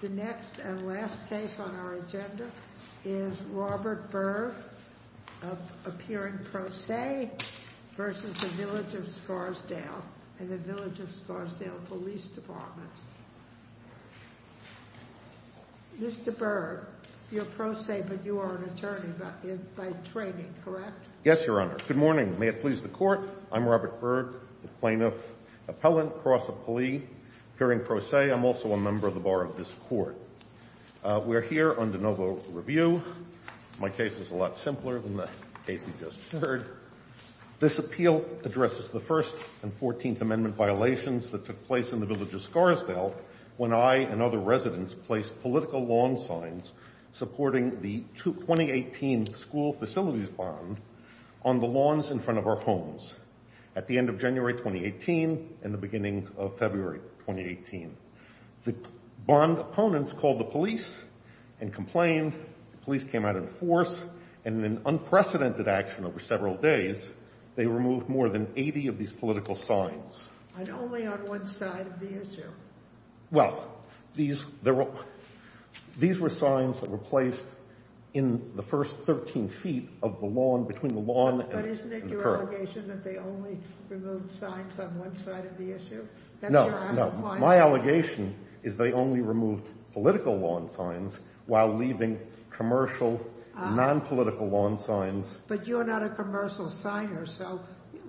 The next and last case on our agenda is Robert Berg of Appearing Pro Se versus the Village of Scarsdale and the Village of Scarsdale Police Department. Mr. Berg, you're pro se but you are an attorney by training, correct? Yes, Your Honor. Good morning. May it please the Court. I'm Robert Berg, the plaintiff, appellant, cross-appellee, appearing pro se. I'm also a member of the bar of this Court. We're here on de novo review. My case is a lot simpler than the case you just heard. This appeal addresses the First and Fourteenth Amendment violations that took place in the Village of Scarsdale when I and other residents placed political lawn signs supporting the 2018 school facilities bond on the lawns in front of our homes at the end of January 2018 and the beginning of February 2018. The bond opponents called the police and complained. The police came out in force and in unprecedented action over several days, they removed more than 80 of these political signs. And only on one side of the issue? Well, these were signs that were placed in the first 13 feet of the lawn, between the lawn and the curb. But isn't it your allegation that they only removed signs on one side of the issue? No, no. My allegation is they only removed political lawn signs while leaving commercial, nonpolitical lawn signs. But you're not a commercial signer, so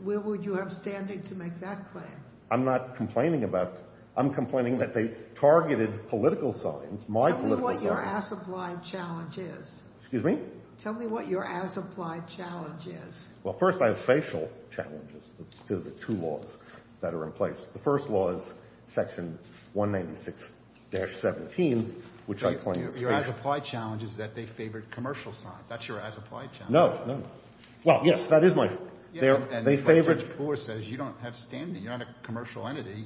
where would you have standing to make that claim? I'm not complaining about – I'm complaining that they targeted political signs, my political signs. Tell me what your as-applied challenge is. Excuse me? Tell me what your as-applied challenge is. Well, first, I have facial challenges to the two laws that are in place. The first law is section 196-17, which I claim is – Your as-applied challenge is that they favored commercial signs. That's your as-applied challenge. No, no, no. Well, yes, that is my – they favored – And section 4 says you don't have standing. You're not a commercial entity.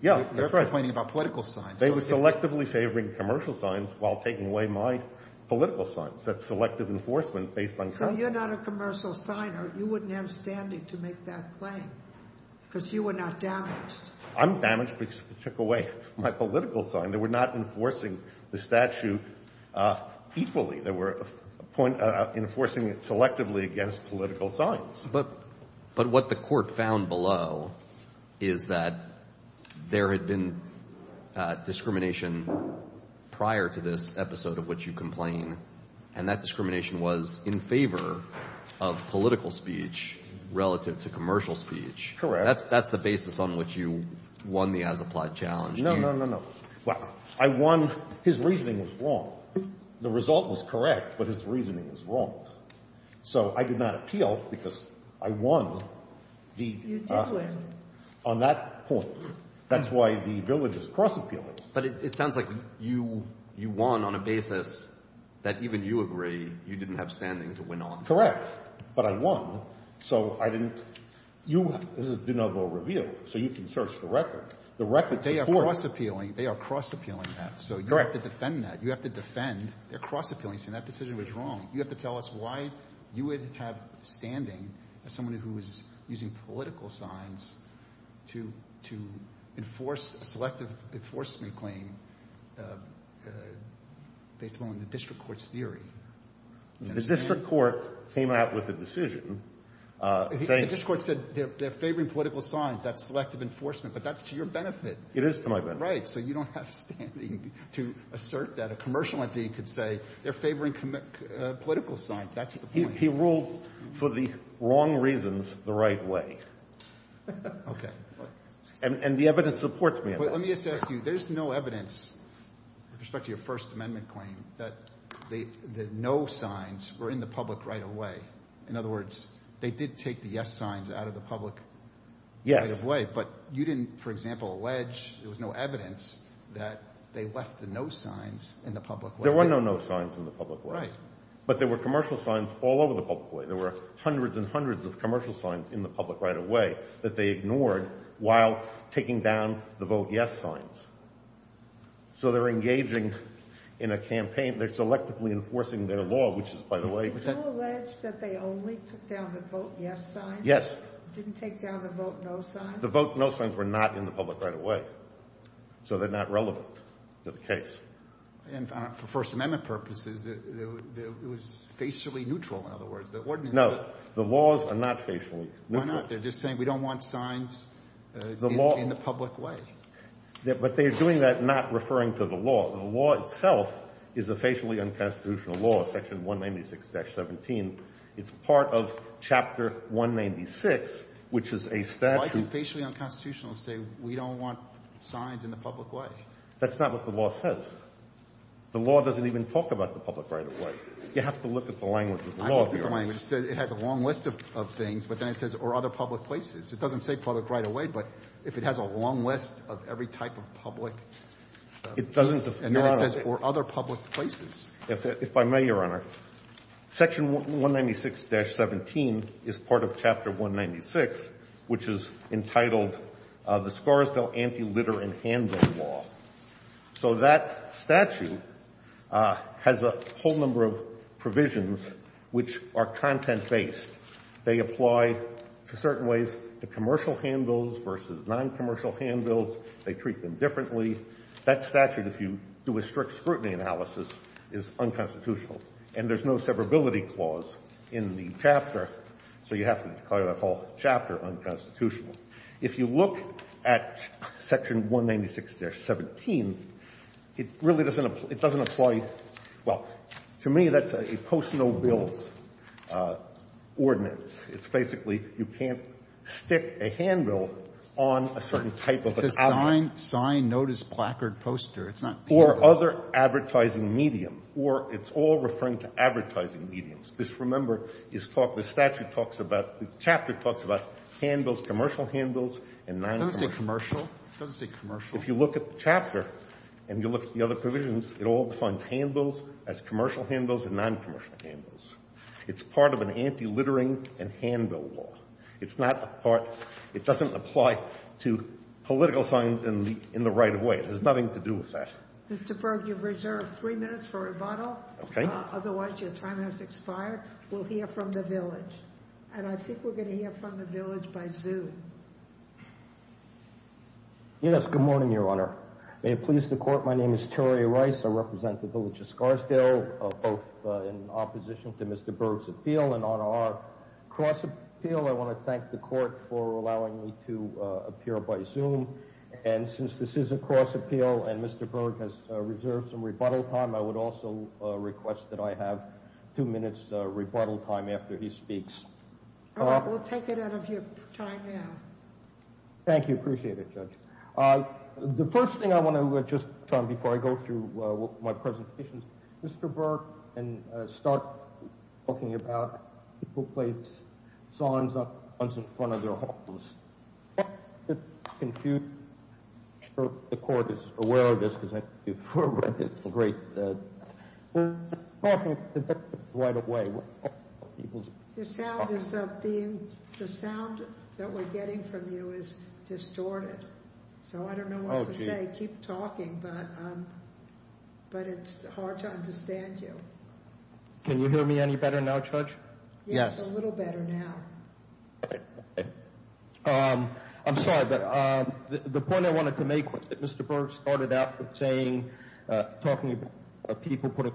Yeah, that's right. You're complaining about political signs. They were selectively favoring commercial signs while taking away my political signs. That's selective enforcement based on – So you're not a commercial signer. You wouldn't have standing to make that claim because you were not damaged. I'm damaged because they took away my political sign. They were not enforcing the statute equally. They were enforcing it selectively against political signs. But what the court found below is that there had been discrimination prior to this episode of which you complain, and that discrimination was in favor of political speech relative to commercial speech. Correct. That's the basis on which you won the as-applied challenge. No, no, no, no. Well, I won – his reasoning was wrong. The result was correct, but his reasoning was wrong. So I did not appeal because I won the – You did win. On that point. That's why the village is cross-appealing. But it sounds like you won on a basis that even you agree you didn't have standing to win on. Correct. But I won, so I didn't – you – this is de novo reveal, so you can search the record. The record supports – They are cross-appealing. They are cross-appealing that. Correct. So you have to defend that. You have to defend their cross-appealing saying that decision was wrong. You have to tell us why you would have standing as someone who is using political signs to – to enforce a selective enforcement claim based on the district court's theory. The district court came out with a decision saying – The district court said they're favoring political signs. That's selective enforcement. But that's to your benefit. It is to my benefit. Right. So you don't have standing to assert that. A commercial entity could say they're favoring political signs. That's the point. He ruled for the wrong reasons the right way. Okay. And the evidence supports me on that. Let me just ask you, there's no evidence with respect to your First Amendment claim that the no signs were in the public right away. In other words, they did take the yes signs out of the public right of way. Yes. But you didn't, for example, allege there was no evidence that they left the no signs in the public way. There were no no signs in the public way. Right. But there were commercial signs all over the public way. There were hundreds and hundreds of commercial signs in the public right of way that they ignored while taking down the vote yes signs. So they're engaging in a campaign. They're selectively enforcing their law, which is, by the way – Did you allege that they only took down the vote yes signs? Yes. Didn't take down the vote no signs? The vote no signs were not in the public right of way. So they're not relevant to the case. And for First Amendment purposes, it was facially neutral, in other words. No. The laws are not facially neutral. Why not? They're just saying we don't want signs in the public way. But they're doing that not referring to the law. The law itself is a facially unconstitutional law, Section 196-17. It's part of Chapter 196, which is a statute – But why does a facially unconstitutional say we don't want signs in the public way? That's not what the law says. The law doesn't even talk about the public right of way. You have to look at the language of the law, Your Honor. I look at the language. It says it has a long list of things, but then it says or other public places. It doesn't say public right of way, but if it has a long list of every type of public – It doesn't, Your Honor. And then it says or other public places. If I may, Your Honor, Section 196-17 is part of Chapter 196, which is entitled the Scarsdale Anti-Litter and Handbill Law. So that statute has a whole number of provisions which are content-based. They apply to certain ways to commercial handbills versus noncommercial handbills. They treat them differently. That statute, if you do a strict scrutiny analysis, is unconstitutional, and there's no severability clause in the chapter, so you have to call that whole chapter unconstitutional. If you look at Section 196-17, it really doesn't apply – it doesn't apply – well, to me, that's a post-no-bills ordinance. It's basically you can't stick a handbill on a certain type of an outlet. It's a sign, notice, placard, poster. It's not handbills. Or other advertising medium, or it's all referring to advertising mediums. This, remember, is talk – the statute talks about – the chapter talks about handbills, commercial handbills, and noncommercial handbills. It doesn't say commercial. It doesn't say commercial. If you look at the chapter and you look at the other provisions, it all defines handbills as commercial handbills and noncommercial handbills. It's part of an anti-littering and handbill law. It's not a part – it doesn't apply to political signs in the right of way. It has nothing to do with that. Mr. Berg, you've reserved three minutes for rebuttal. Okay. Otherwise, your time has expired. We'll hear from the village. And I think we're going to hear from the village by Zoom. Yes, good morning, Your Honor. May it please the Court, my name is Terry Rice. I represent the village of Scarsdale, both in opposition to Mr. Berg's appeal and on our cross-appeal. I want to thank the Court for allowing me to appear by Zoom. And since this is a cross-appeal and Mr. Berg has reserved some rebuttal time, I would also request that I have two minutes rebuttal time after he speaks. All right. We'll take it out of your time now. Thank you. Appreciate it, Judge. The first thing I want to, just before I go through my presentations, Mr. Berg, and start talking about people playing songs up in front of their homes. I'm just confused. I'm sure the Court is aware of this because I think you've read this in great detail. We're talking about this right away. The sound that we're getting from you is distorted. So I don't know what to say. Keep talking. But it's hard to understand you. Can you hear me any better now, Judge? Yes, a little better now. I'm sorry, but the point I wanted to make was that Mr. Berg started out with saying, talking about people putting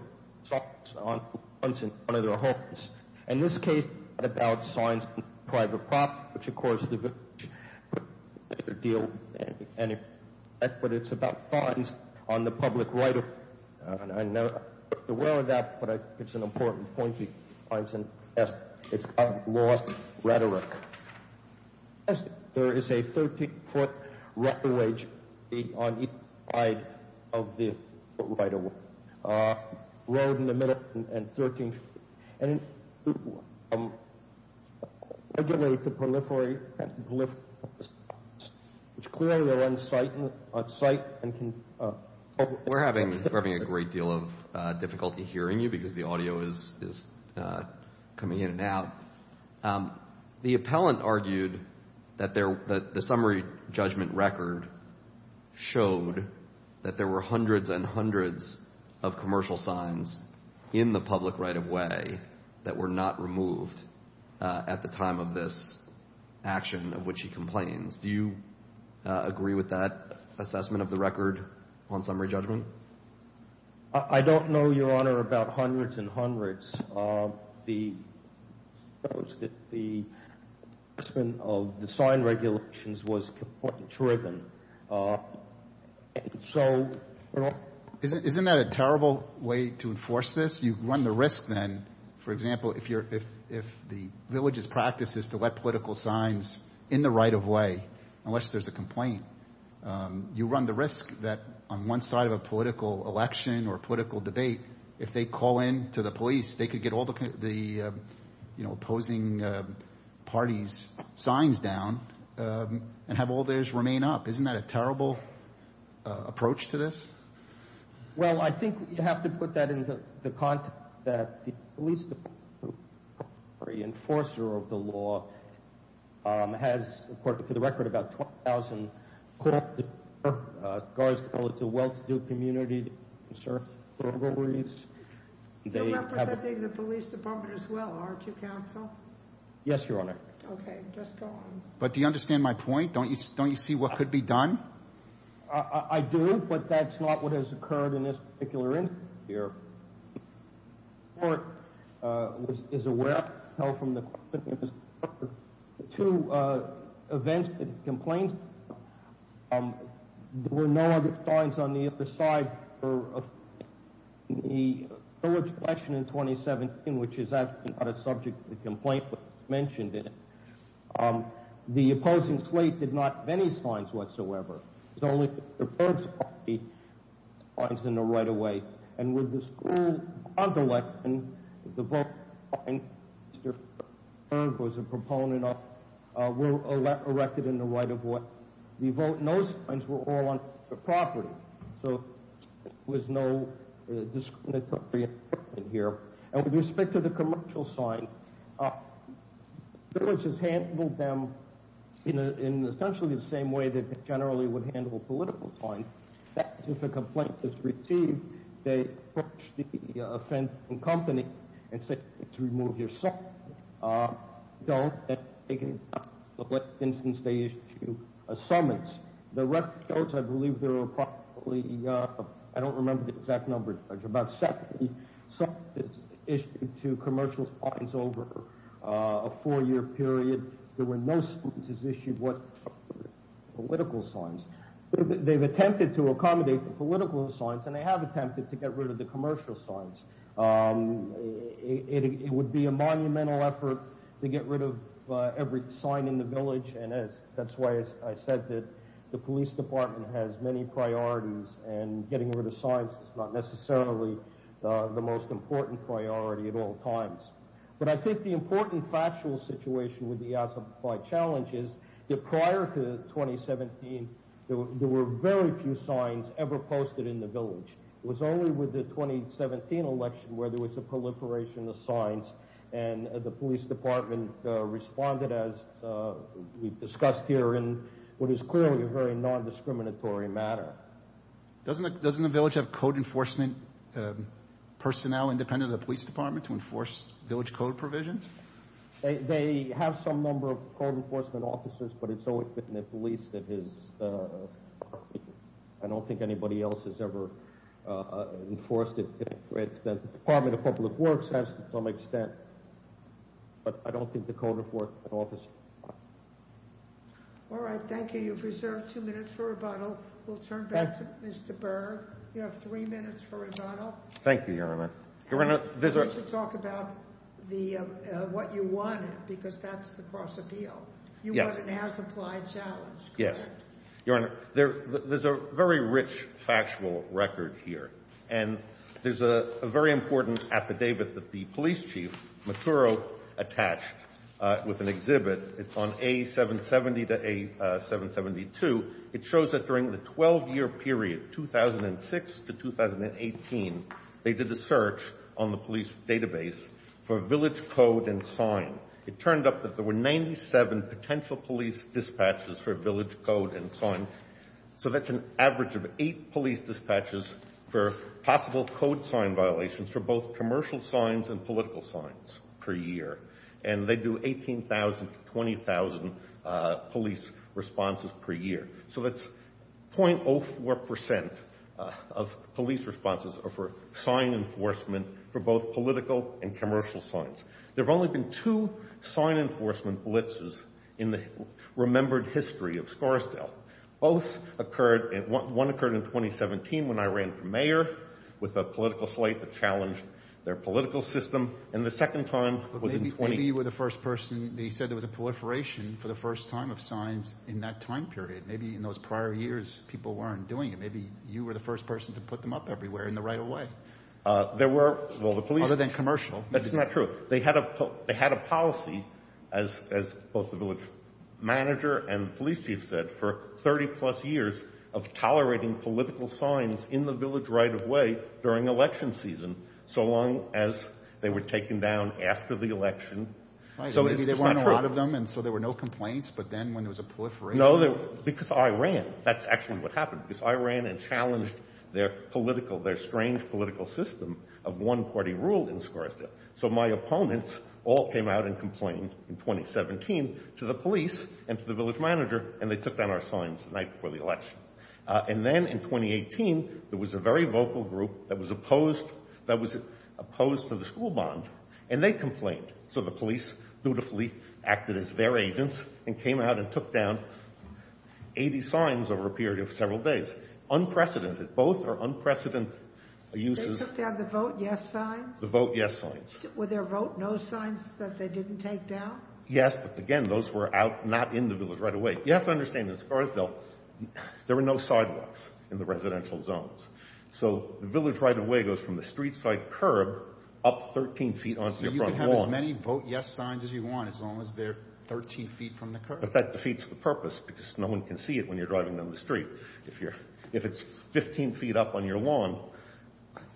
songs up in front of their homes. In this case, it's not about songs in private property, which, of course, is a deal, but it's about funds on the public right. I'm not aware of that, but it's an important point. It's a law rhetoric. There is a 13-foot record wage on each side of the right of way. A road in the middle and 13 feet. And it's regulated to proliferate and proliferate. Clearly, they're on-site. We're having a great deal of difficulty hearing you because the audio is coming in and out. The appellant argued that the summary judgment record showed that there were hundreds and hundreds of commercial signs in the public right of way that were not removed at the time of this action of which he complains. Do you agree with that assessment of the record on summary judgment? I don't know, Your Honor, about hundreds and hundreds. The assessment of the sign regulations was completely driven. Isn't that a terrible way to enforce this? You run the risk then, for example, if the village's practice is to let political signs in the right of way unless there's a complaint, you run the risk that on one side of a political election or political debate, if they call in to the police, they could get all the opposing parties' signs down and have all theirs remain up. Isn't that a terrible approach to this? Well, I think you have to put that into the context that the police department, the enforcer of the law, has, according to the record, about 12,000 calls to the well-to-do community to conserve burglaries. You're representing the police department as well, aren't you, counsel? Yes, Your Honor. Okay, just go on. But do you understand my point? Don't you see what could be done? I do, but that's not what has occurred in this particular instance here. The court is aware of the two events and complaints. There were no other signs on the other side of the village election in 2017, which is actually not a subject of the complaint, but it's mentioned in it. The opposing slate did not have any signs whatsoever. It's only Mr. Ferg's party signs in the right-of-way. And with the school bond election, Mr. Ferg was a proponent of a record in the right-of-way. Those signs were all on the property, so there was no discriminatory effect here. And with respect to the commercial sign, the village has handled them in essentially the same way that they generally would handle a political sign. That is, if a complaint is received, they approach the offending company and say, remove your sign. Don't. In this instance, they issue a summons. The records, I believe there were probably—I don't remember the exact number, Judge— summonses issued to commercial signs over a four-year period. There were no summonses issued with political signs. They've attempted to accommodate the political signs, and they have attempted to get rid of the commercial signs. It would be a monumental effort to get rid of every sign in the village, and that's why I said that the police department has many priorities, and getting rid of signs is not necessarily the most important priority at all times. But I think the important factual situation with the Assembly Challenge is that prior to 2017, there were very few signs ever posted in the village. It was only with the 2017 election where there was a proliferation of signs, and the police department responded, as we've discussed here, in what is clearly a very non-discriminatory manner. Doesn't the village have code enforcement personnel independent of the police department to enforce village code provisions? They have some number of code enforcement officers, but it's always been the police that is— I don't think anybody else has ever enforced it. The Department of Public Works has to some extent, but I don't think the code enforcement officers have. All right. Thank you. You've reserved two minutes for rebuttal. We'll turn back to Mr. Berg. You have three minutes for rebuttal. Thank you, Your Honor. You should talk about what you wanted, because that's the cross-appeal. You wanted an as-applied challenge, correct? Yes. Your Honor, there's a very rich factual record here, and there's a very important affidavit that the police chief, Maturo, attached with an exhibit. It's on A770 to A772. It shows that during the 12-year period, 2006 to 2018, they did a search on the police database for village code and sign. It turned up that there were 97 potential police dispatches for village code and sign, so that's an average of eight police dispatches for possible code sign violations for both commercial signs and political signs per year, and they do 18,000 to 20,000 police responses per year. So that's 0.04% of police responses are for sign enforcement for both political and commercial signs. There have only been two sign enforcement blitzes in the remembered history of Scarsdale. Both occurred, and one occurred in 2017 when I ran for mayor with a political slate that challenged their political system, and the second time was in 2018. Maybe you were the first person. They said there was a proliferation for the first time of signs in that time period. Maybe in those prior years, people weren't doing it. Maybe you were the first person to put them up everywhere in the right of way. There were, well, the police. Other than commercial. That's not true. They had a policy, as both the village manager and police chief said, for 30-plus years of tolerating political signs in the village right of way during election season, so long as they were taken down after the election. Maybe there weren't a lot of them, and so there were no complaints, but then when there was a proliferation. No, because I ran. That's actually what happened, because I ran and challenged their political, their strange political system of one-party rule in Sarasota, so my opponents all came out and complained in 2017 to the police and to the village manager, and they took down our signs the night before the election. And then in 2018, there was a very vocal group that was opposed to the school bond, and they complained, so the police dutifully acted as their agents and came out and took down 80 signs over a period of several days. Unprecedented. Both are unprecedented uses. They took down the vote yes signs? The vote yes signs. Were there vote no signs that they didn't take down? Yes, but again, those were out, not in the village right of way. You have to understand, in Scarsdale, there were no sidewalks in the residential zones, so the village right of way goes from the street side curb up 13 feet onto the front wall. So you can have as many vote yes signs as you want as long as they're 13 feet from the curb? But that defeats the purpose because no one can see it when you're driving down the street. If it's 15 feet up on your lawn,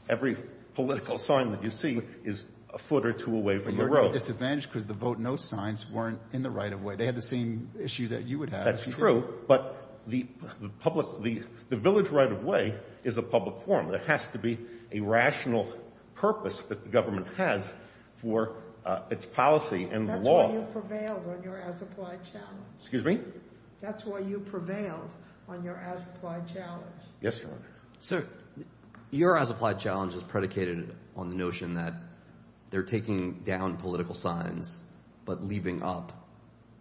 every political sign that you see is a foot or two away from the road. But you're at a disadvantage because the vote no signs weren't in the right of way. They had the same issue that you would have. That's true, but the village right of way is a public forum. There has to be a rational purpose that the government has for its policy and the law. That's why you prevailed on your as-applied challenge. Excuse me? That's why you prevailed on your as-applied challenge. Yes, Your Honor. Sir, your as-applied challenge is predicated on the notion that they're taking down political signs but leaving up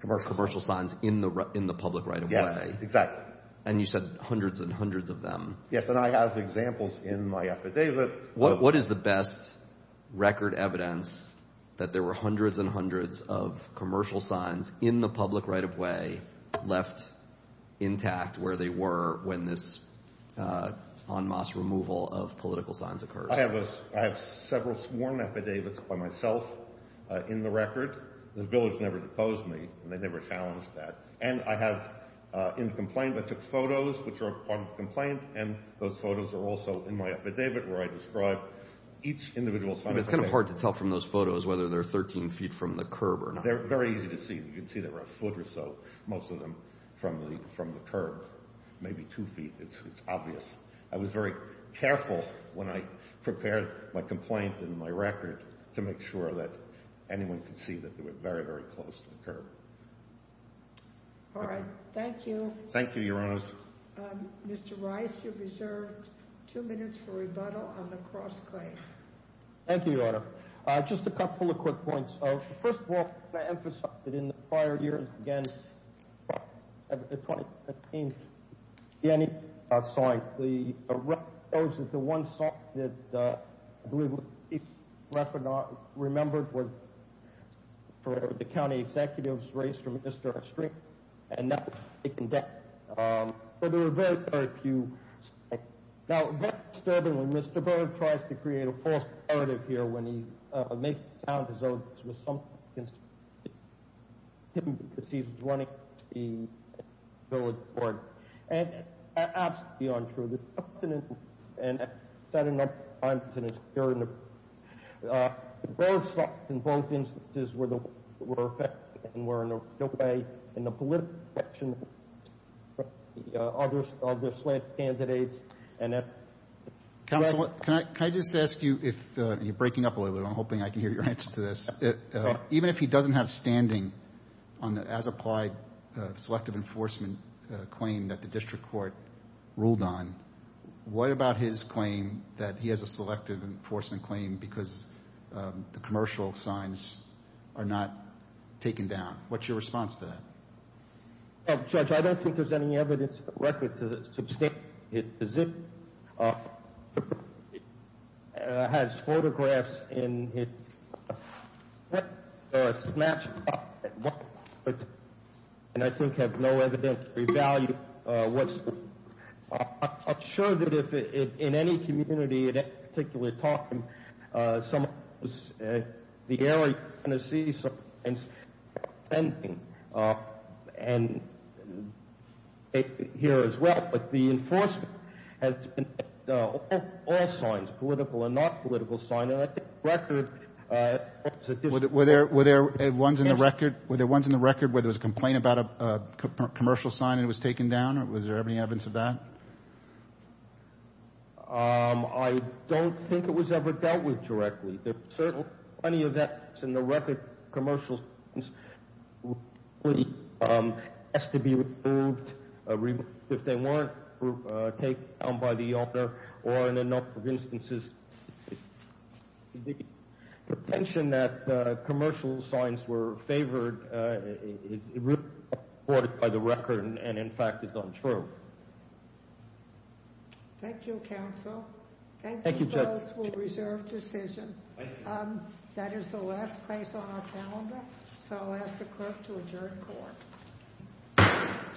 commercial signs in the public right of way. Yes, exactly. And you said hundreds and hundreds of them. Yes, and I have examples in my affidavit. What is the best record evidence that there were hundreds and hundreds of commercial signs in the public right of way left intact where they were when this en masse removal of political signs occurred? I have several sworn affidavits by myself in the record. The village never deposed me, and they never challenged that. And I have in the complaint, I took photos, which are part of the complaint, and those photos are also in my affidavit where I describe each individual sign. It's kind of hard to tell from those photos whether they're 13 feet from the curb or not. They're very easy to see. You can see they were a foot or so, most of them, from the curb, maybe two feet. It's obvious. I was very careful when I prepared my complaint in my record to make sure that anyone could see that they were very, very close to the curb. All right. Thank you. Thank you, Your Honor. Mr. Rice, you're reserved two minutes for rebuttal on the cross claim. Thank you, Your Honor. Just a couple of quick points. First of all, can I emphasize that in the prior years, again, the 2015 Siena sign, the one sign that I believe was least remembered was for the county executive's race for minister of strength. And that was taken down. But there were very, very few. Now, very disturbingly, Mr. Berg tries to create a false narrative here when he makes it sound as though this was something against him because he's running the village board. And it's absolutely untrue. It's absolutely untrue. And I've said enough times in this hearing. Berg's thoughts in both instances were effective and were in a real way in the political direction of the other slant candidates. And that's right. Counsel, can I just ask you, you're breaking up a little bit. I'm hoping I can hear your answer to this. Even if he doesn't have standing on the as-applied selective enforcement claim that the district court ruled on, what about his claim that he has a selective enforcement claim because the commercial signs are not taken down? What's your response to that? Well, Judge, I don't think there's any evidence or record to substantiate it. It has photographs in it that are snatched up at one point and I think have no evidence to revalue what's been said. I'm sure that if in any community at any particular time someone was at the area going to see something, and here as well. But the enforcement has been at all signs, political and not political signs. And I think the record holds a different view. Were there ones in the record where there was a complaint about a commercial sign and it was taken down? Was there any evidence of that? I don't think it was ever dealt with directly. There are certainly plenty of that in the record. Commercial signs have to be removed if they weren't taken down by the author or in a number of instances. The tension that commercial signs were favored is reported by the record and in fact is untrue. Thank you, counsel. Thank you, Judge. That is the last case on our calendar, so I'll ask the clerk to adjourn court.